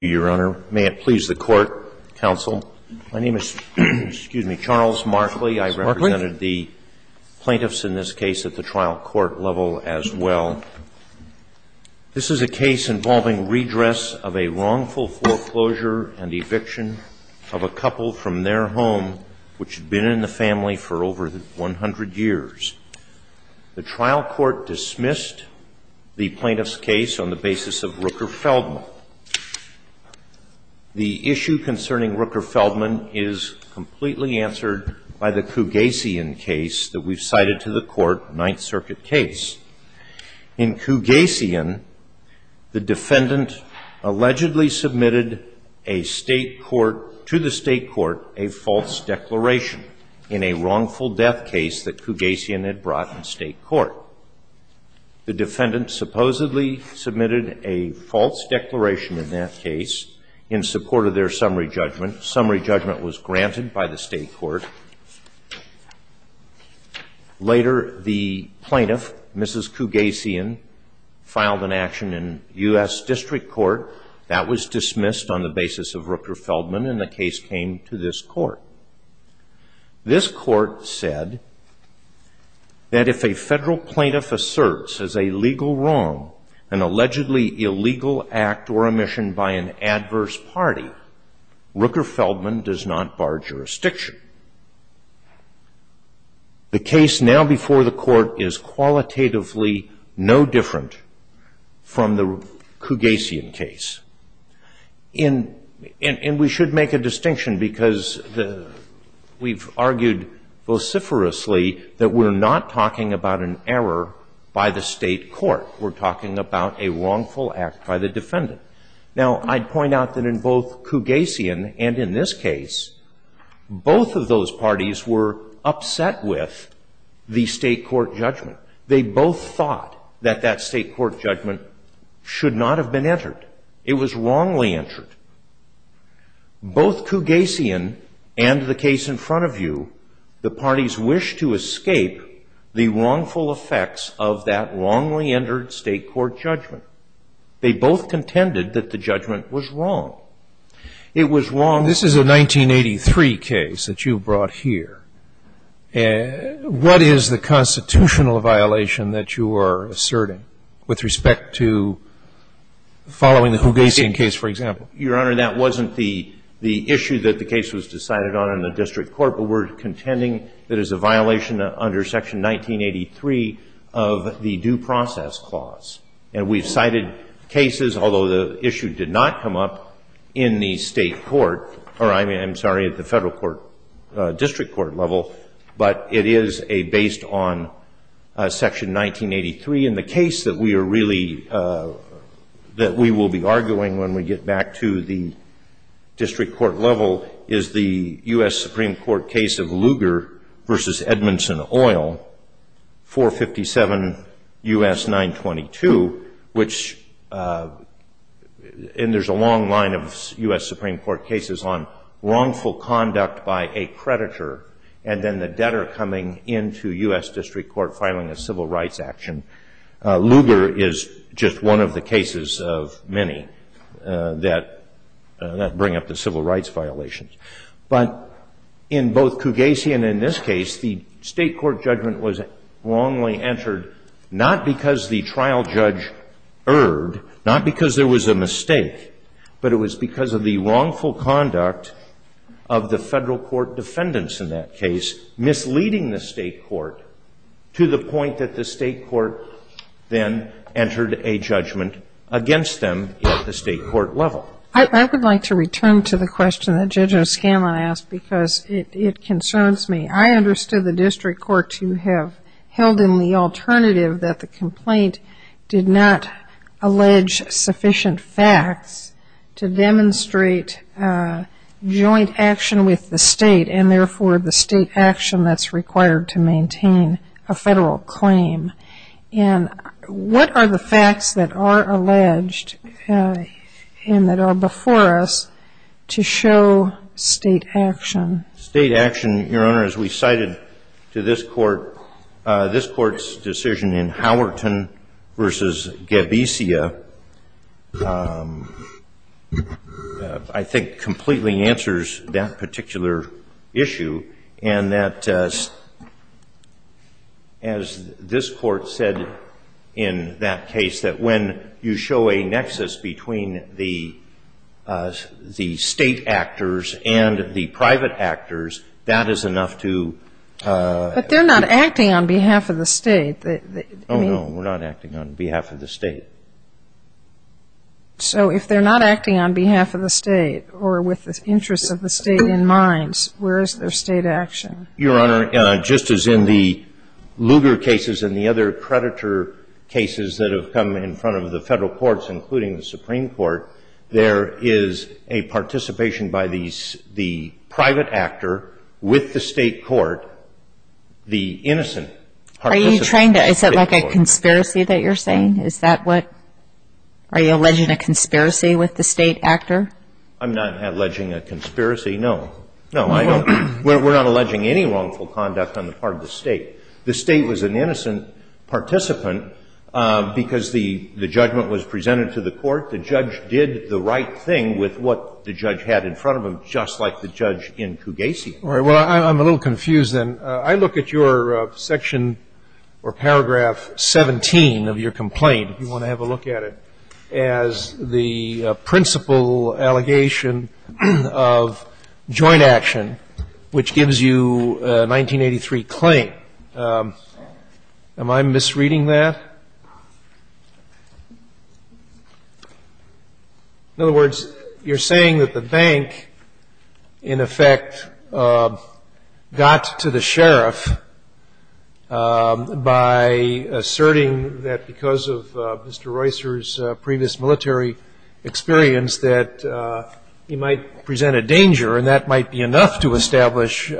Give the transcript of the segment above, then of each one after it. Your Honor, may it please the Court, counsel, my name is, excuse me, Charles Markley. I represented the plaintiffs in this case at the trial court level as well. This is a case involving redress of a wrongful foreclosure and eviction of a couple from their home which had been in the family for over 100 years. The trial court dismissed the plaintiff's case on the basis of Rooker-Feldman. The issue concerning Rooker-Feldman is completely answered by the Cugasian case that we've cited to the Court, Ninth Circuit case. In Cugasian, the defendant allegedly submitted a state court, to the state court, a false declaration in a wrongful death case that Cugasian had brought in state court. The defendant supposedly submitted a false declaration in that case in support of their summary judgment. Summary judgment was granted by the state court. Later, the plaintiff, Mrs. Cugasian, filed an action in U.S. District Court. That was dismissed on the basis of Rooker-Feldman, and the case came to this Court. This Court said that if a federal plaintiff asserts as a legal wrong an allegedly illegal act or omission by an adverse party, Rooker-Feldman does not bar jurisdiction. The case now before the Court is qualitatively no different from the Cugasian case. And we should make a distinction because we've argued vociferously that we're not talking about an error by the state court. We're talking about a wrongful act by the defendant. Now, I'd point out that in both Cugasian and in this case, both of those parties were upset with the state court judgment. They both thought that that state court judgment should not have been entered. It was wrongly entered. Both Cugasian and the case in front of you, the parties wished to escape the wrongful effects of that wrongly entered state court judgment. They both contended that the judgment was wrong. It was wrong. This is a 1983 case that you brought here. What is the constitutional violation that you are asserting with respect to following the Cugasian case, for example? Your Honor, that wasn't the issue that the case was decided on in the district court, but we're contending that it's a violation under Section 1983 of the Due Process Clause. And we've cited cases, although the issue did not come up in the state court, or I'm sorry, at the federal court district court level, but it is based on Section 1983. And the case that we are really, that we will be arguing when we get back to the district court level is the U.S. Supreme Court case of Lugar v. Edmondson Oil, 457 U.S. 922, which, and there's a long line of U.S. Supreme Court cases on wrongful conduct by a creditor, and then the debtor coming into U.S. district court filing a civil rights action. Lugar is just one of the cases of many that bring up the civil rights violations. But in both Cugasian and this case, the state court judgment was wrongly entered, not because the trial judge erred, not because there was a mistake, but it was because of the wrongful conduct of the federal court defendants in that case, misleading the state court to the point that the state court then entered a judgment against them at the state court level. I would like to return to the question that Judge O'Scanlan asked, because it concerns me. I understood the district court to have held in the alternative that the complaint did not allege sufficient facts to demonstrate joint action with the state, and therefore the state action that's required to maintain a federal claim. And what are the facts that are alleged and that are before us to show state action? State action, Your Honor, as we cited to this court, this court's decision in Howerton v. Gabesia, I think, completely answers that particular issue. And that, as this court said in that case, that when you show a nexus between the state actors and the private actors, that is enough to ---- But they're not acting on behalf of the state. Oh, no, we're not acting on behalf of the state. So if they're not acting on behalf of the state or with the interests of the state in mind, where is their state action? Your Honor, just as in the Lugar cases and the other predator cases that have come in front of the federal courts, including the Supreme Court, there is a participation by the private actor with the state court, the innocent participant with the state court. Are you trying to ---- Is that like a conspiracy that you're saying? Is that what ---- Are you alleging a conspiracy with the state actor? I'm not alleging a conspiracy, no. No, I don't. We're not alleging any wrongful conduct on the part of the state. The state was an innocent participant because the judgment was presented to the court. The judge did the right thing with what the judge had in front of him, just like the judge in Cugasi. All right. Well, I'm a little confused then. I look at your section or paragraph 17 of your complaint, if you want to have a look at it, as the principal allegation of joint action which gives you a 1983 claim. Am I misreading that? In other words, you're saying that the bank, in effect, got to the sheriff by asserting that because of Mr. Royster's previous military experience that he might present a danger and that might be enough to establish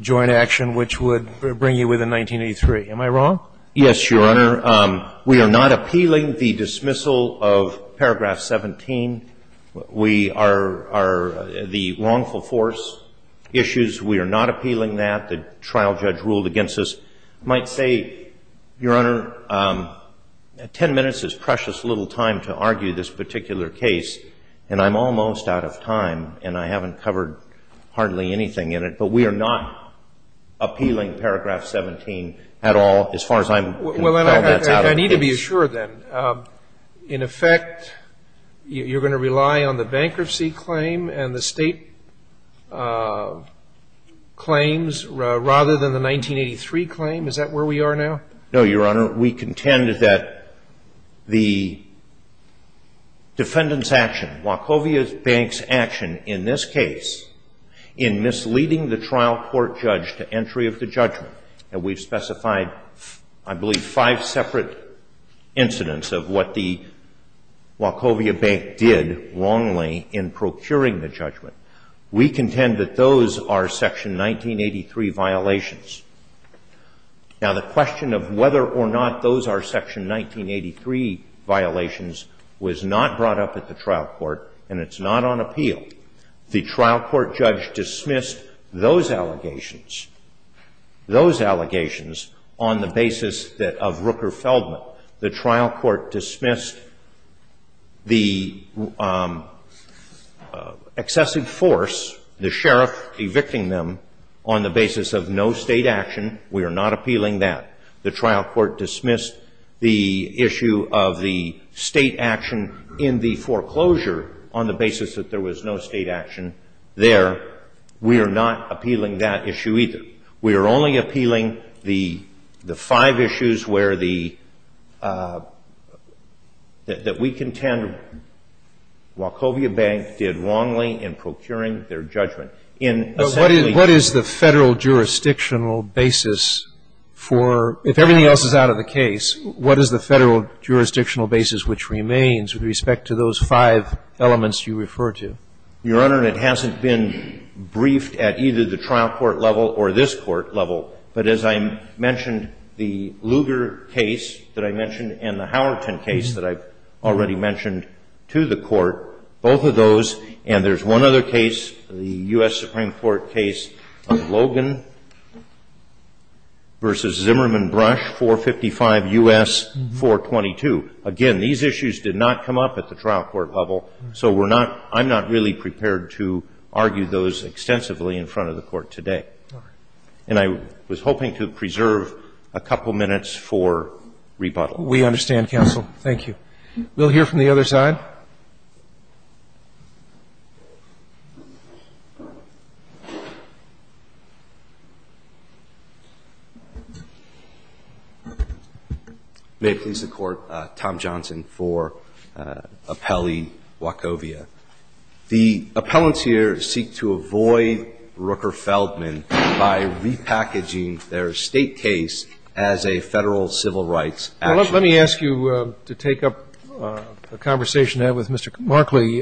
joint action which would bring you within 1983. Am I wrong? Yes, Your Honor. We are not appealing the dismissal of paragraph 17. We are the wrongful force issues. We are not appealing that. The trial judge ruled against us. I might say, Your Honor, 10 minutes is precious little time to argue this particular case, and I'm almost out of time, and I haven't covered hardly anything in it. But we are not appealing paragraph 17 at all as far as I'm concerned. Well, I need to be assured then. In effect, you're going to rely on the bankruptcy claim and the state claims rather than the 1983 claim? Is that where we are now? No, Your Honor. We contend that the defendant's action, Wachovia Bank's action, in this case, in misleading the trial court judge to entry of the judgment, and we've specified, I believe, five separate incidents of what the Wachovia Bank did wrongly in procuring the judgment. We contend that those are Section 1983 violations. Now, the question of whether or not those are Section 1983 violations was not brought up at the trial court, and it's not on appeal. The trial court judge dismissed those allegations, those allegations, on the basis of Rooker Feldman. The trial court dismissed the excessive force, the sheriff evicting them, on the basis of no state action. We are not appealing that. The trial court dismissed the issue of the state action in the foreclosure on the basis that there was no state action there. We are not appealing that issue either. We are only appealing the five issues where the – that we contend Wachovia Bank did wrongly in procuring their judgment. What is the Federal jurisdictional basis for – if everything else is out of the case, what is the Federal jurisdictional basis which remains with respect to those five elements you refer to? Your Honor, it hasn't been briefed at either the trial court level or this court level. But as I mentioned, the Lugar case that I mentioned and the Howerton case that I've already mentioned to the Court, both of those, and there's one other case, the U.S. Supreme Court case of Logan v. Zimmerman Brush, 455 U.S. 422. Again, these issues did not come up at the trial court level, so we're not – I'm not really prepared to argue those extensively in front of the Court today. And I was hoping to preserve a couple minutes for rebuttal. We understand, counsel. Thank you. We'll hear from the other side. May it please the Court, Tom Johnson for appellee Wachovia. The appellants here seek to avoid Rooker-Feldman by repackaging their State case as a Federal civil rights action. Let me ask you to take up a conversation to have with Mr. Markley.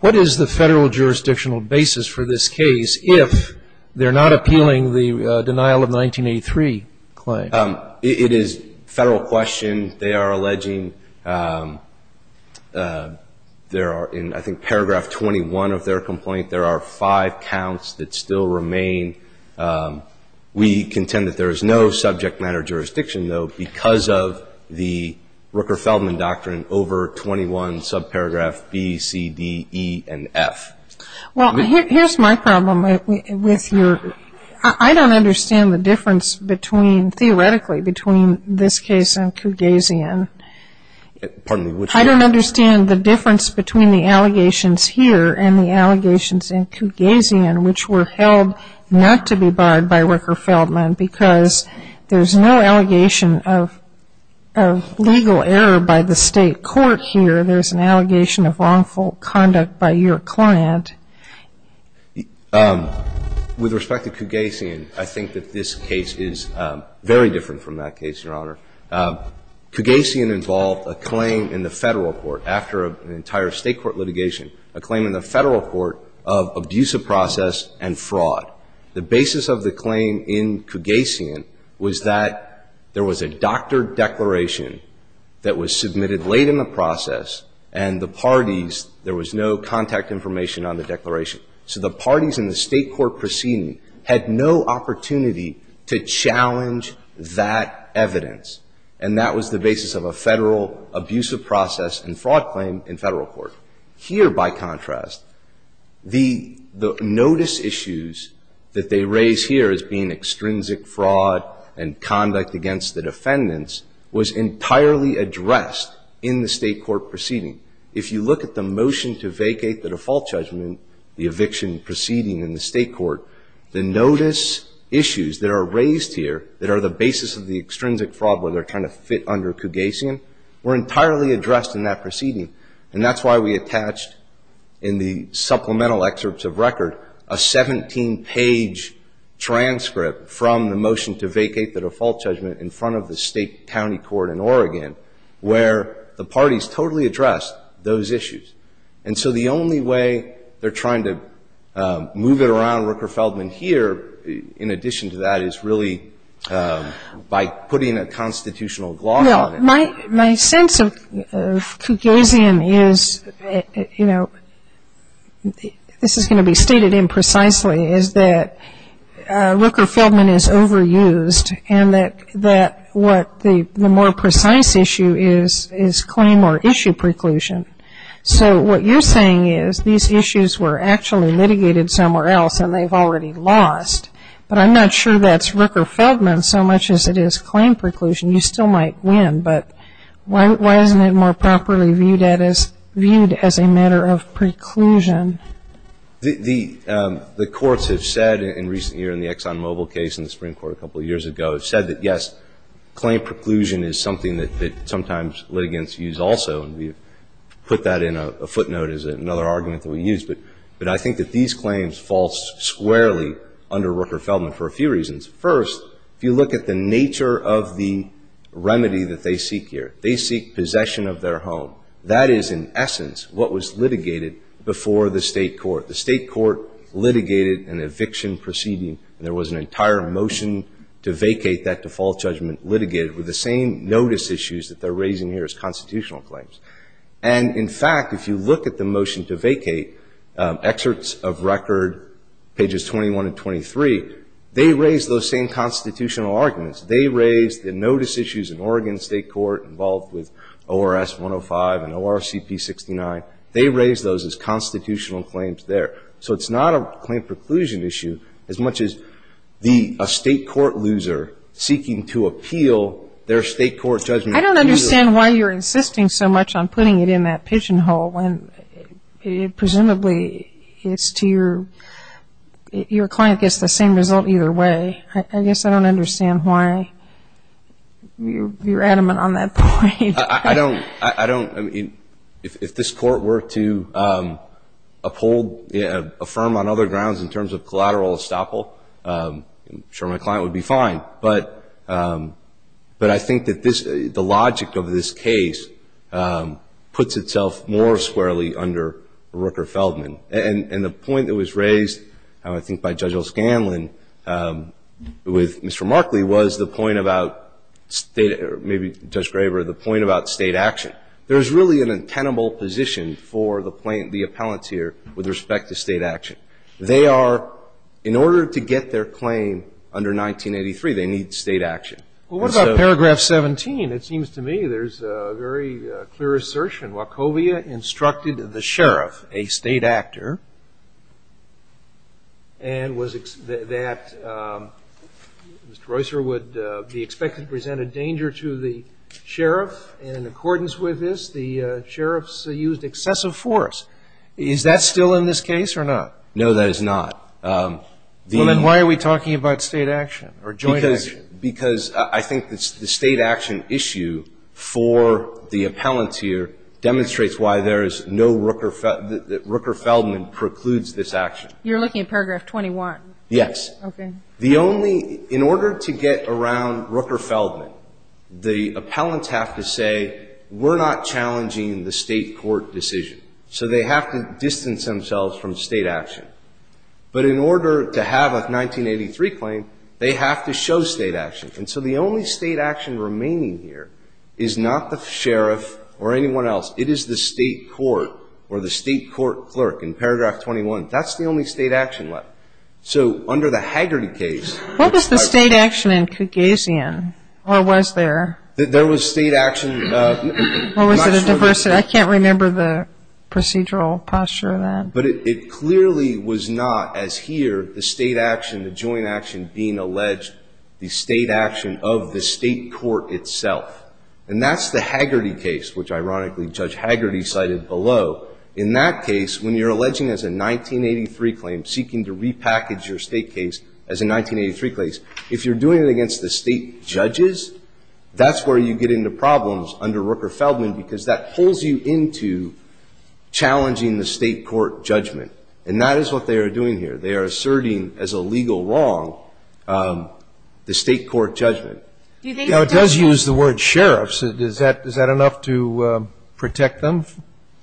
What is the Federal jurisdictional basis for this case if they're not appealing the denial of 1983 claim? It is a Federal question. They are alleging there are, in I think paragraph 21 of their complaint, there are five counts that still remain. We contend that there is no subject matter jurisdiction, though, because of the Rooker-Feldman doctrine over 21, subparagraph B, C, D, E, and F. Well, here's my problem with your – I don't understand the difference between – theoretically between this case and Kugazian. Pardon me. I don't understand the difference between the allegations here and the allegations in Kugazian which were held not to be barred by Rooker-Feldman because there's no allegation of legal error by the State court here. There's an allegation of wrongful conduct by your client. With respect to Kugazian, I think that this case is very different from that case, Your Honor. Kugazian involved a claim in the Federal court after an entire State court litigation, a claim in the Federal court of abusive process and fraud. The basis of the claim in Kugazian was that there was a doctored declaration that was submitted late in the process, and the parties – there was no contact information on the declaration. So the parties in the State court proceeding had no opportunity to challenge that evidence, and that was the basis of a Federal abusive process and fraud claim in Federal court. Here, by contrast, the notice issues that they raise here as being extrinsic fraud and conduct against the defendants was entirely addressed in the State court proceeding. If you look at the motion to vacate the default judgment, the eviction proceeding in the State court, the notice issues that are raised here that are the basis of the extrinsic fraud where they're trying to fit under Kugazian were entirely addressed in that proceeding. And that's why we attached in the supplemental excerpts of record a 17-page transcript from the motion to vacate the default judgment in front of the State county court in Oregon where the parties totally addressed those issues. And so the only way they're trying to move it around Rooker-Feldman here in addition to that is really by putting a constitutional gloss on it. My sense of Kugazian is, you know, this is going to be stated imprecisely, is that Rooker-Feldman is overused and that what the more precise issue is claim or issue preclusion. So what you're saying is these issues were actually litigated somewhere else and they've already lost. But I'm not sure that's Rooker-Feldman so much as it is claim preclusion. You still might win, but why isn't it more properly viewed as a matter of preclusion? The courts have said in recent years, in the Exxon Mobil case in the Supreme Court a couple of years ago, have said that, yes, claim preclusion is something that sometimes litigants use also. And we've put that in a footnote as another argument that we use. But I think that these claims fall squarely under Rooker-Feldman for a few reasons. First, if you look at the nature of the remedy that they seek here, they seek possession of their home. That is, in essence, what was litigated before the state court. The state court litigated an eviction proceeding and there was an entire motion to vacate that default judgment litigated with the same notice issues that they're raising here as constitutional claims. Excerpts of record, pages 21 and 23, they raise those same constitutional arguments. They raise the notice issues in Oregon State Court involved with ORS 105 and ORCP 69. They raise those as constitutional claims there. So it's not a claim preclusion issue as much as a state court loser seeking to appeal their state court judgment. I don't understand why you're insisting so much on putting it in that pigeonhole when it presumably is to your client gets the same result either way. I guess I don't understand why you're adamant on that point. I don't. I mean, if this court were to uphold, affirm on other grounds in terms of collateral estoppel, I'm sure my client would be fine. But I think that the logic of this case puts itself more squarely under Rooker-Feldman. And the point that was raised, I think, by Judge O'Scanlan with Mr. Markley was the point about state or maybe Judge Graber, the point about state action. There's really an intenable position for the plaintiff, the appellant here, with respect to state action. They are, in order to get their claim under 1983, they need state action. Well, what about paragraph 17? It seems to me there's a very clear assertion. Wachovia instructed the sheriff, a state actor, and was that Mr. Roycer would be expected to present a danger to the sheriff. And in accordance with this, the sheriffs used excessive force. Is that still in this case or not? No, that is not. Well, then why are we talking about state action or joint action? Because I think the state action issue for the appellant here demonstrates why there is no Rooker-Feldman precludes this action. You're looking at paragraph 21. Yes. Okay. The only ñ in order to get around Rooker-Feldman, the appellants have to say we're not challenging the state court decision. So they have to distance themselves from state action. But in order to have a 1983 claim, they have to show state action. And so the only state action remaining here is not the sheriff or anyone else. It is the state court or the state court clerk in paragraph 21. That's the only state action left. So under the Haggerty case ñ What was the state action in Cagazian? Or was there? There was state action ñ I can't remember the procedural posture of that. But it clearly was not, as here, the state action, the joint action being alleged, the state action of the state court itself. And that's the Haggerty case, which, ironically, Judge Haggerty cited below. In that case, when you're alleging as a 1983 claim, seeking to repackage your state case as a 1983 case, if you're doing it against the state judges, that's where you get into problems under Rooker-Feldman, because that pulls you into challenging the state court judgment. And that is what they are doing here. They are asserting as a legal wrong the state court judgment. Do you think that does ñ Now, it does use the word sheriff. So does that ñ is that enough to protect them?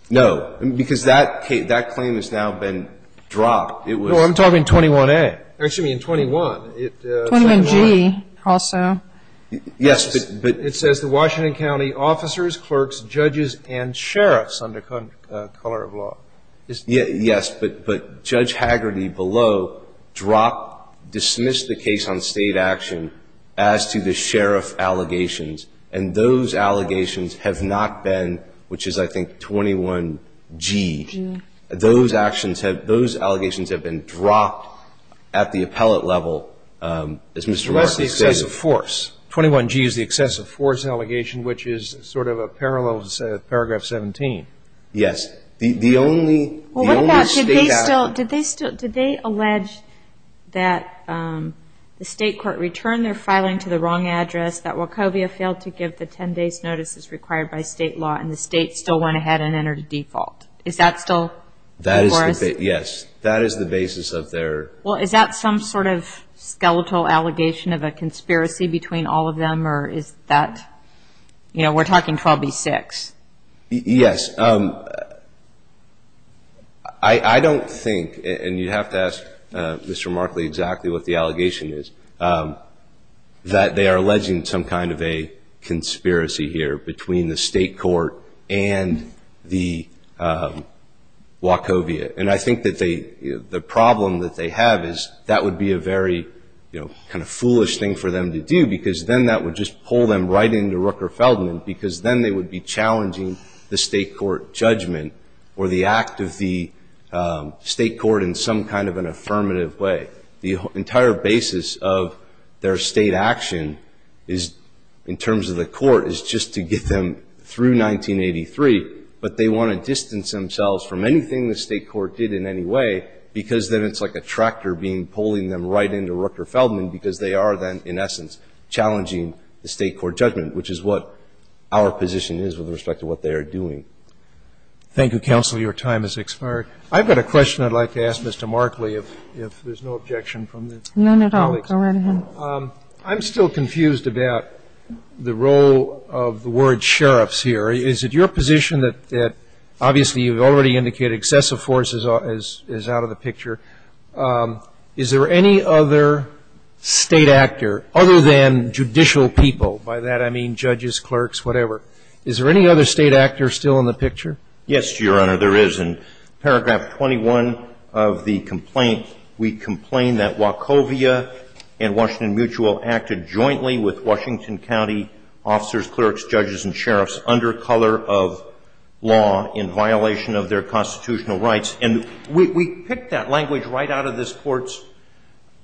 No. Because that claim has now been dropped. It was ñ Well, I'm talking 21A. Excuse me, in 21. 21G also. Yes. But it says the Washington County officers, clerks, judges, and sheriffs under color of law. Yes. But Judge Haggerty below dropped, dismissed the case on state action as to the sheriff allegations. And those allegations have not been, which is, I think, 21G. 21G. Those actions have ñ those allegations have been dropped at the appellate level, as Mr. Martin stated. So that's the excessive force. 21G is the excessive force allegation, which is sort of a parallel to paragraph 17. The only state action ñ Well, what about ñ did they still ñ did they allege that the state court returned their filing to the wrong address, that Wachovia failed to give the 10 days' notices required by state law, and the state still went ahead and entered a default? Is that still before us? That is the ñ yes. That is the basis of their ñ Well, is that some sort of skeletal allegation of a conspiracy between all of them, or is that ñ you know, we're talking 12B6. Yes. I don't think ñ and you'd have to ask Mr. Markley exactly what the allegation is ñ that they are alleging some kind of a conspiracy here between the state court and the Wachovia. And I think that they ñ the problem that they have is that would be a very, you know, kind of foolish thing for them to do because then that would just pull them right into Rooker-Feldman because then they would be challenging the state court judgment or the act of the state court in some kind of an affirmative way. The entire basis of their state action is ñ in terms of the court is just to get them through 1983, but they want to distance themselves from anything the state court did in any way because then it's like a tractor being ñ pulling them right into Rooker-Feldman because they are then, in essence, challenging the state court judgment, which is what our position is with respect to what they are doing. Thank you, counsel. Your time has expired. I've got a question I'd like to ask Mr. Markley if there's no objection from the colleagues. None at all. Go right ahead. I'm still confused about the role of the word ìsheriffsî here. Is it your position that obviously you've already indicated excessive force is out of the picture. Is there any other State actor other than judicial people? By that I mean judges, clerks, whatever. Is there any other State actor still in the picture? Yes, Your Honor, there is. In paragraph 21 of the complaint, we complain that Wachovia and Washington Mutual acted jointly with Washington County officers, clerks, judges, and sheriffs under color of law in violation of their constitutional rights. And we picked that language right out of this Court's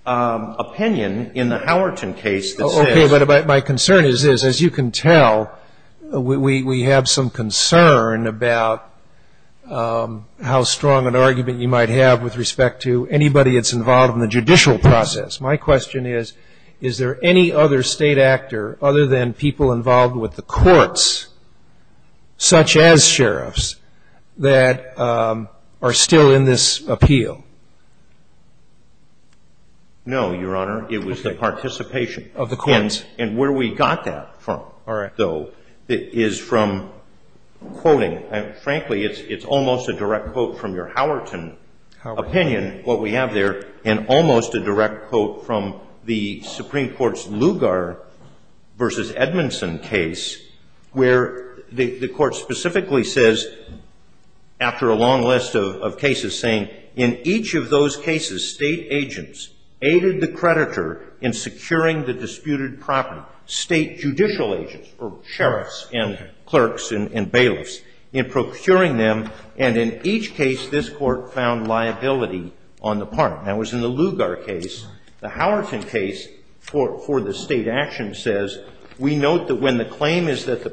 opinion in the Howerton case. Okay. But my concern is this. As you can tell, we have some concern about how strong an argument you might have with respect to anybody that's involved in the judicial process. My question is, is there any other State actor other than people involved with the courts, such as sheriffs, that are still in this appeal? No, Your Honor. It was the participation of the courts. And where we got that from, though, is from quoting. Frankly, it's almost a direct quote from your Howerton opinion, what we have there, and almost a direct quote from the Supreme Court's Lugar v. Edmondson case, where the Court specifically says, after a long list of cases, saying, in each of those cases, State agents aided the creditor in securing the disputed property, State judicial agents, or sheriffs and clerks and bailiffs, in procuring them. And in each case, this Court found liability on the part. That was in the Lugar case. The Howerton case for the State action says, we note that when the claim is that the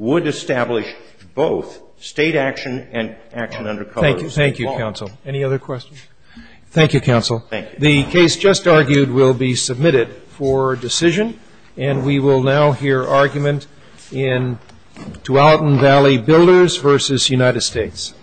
would establish both State action and action under cover of law. Thank you. Thank you, counsel. Any other questions? Thank you, counsel. Thank you. The case just argued will be submitted for decision. And we will now hear argument in Tualatin Valley Builders v. United States. Thank you, counsel. Thank you.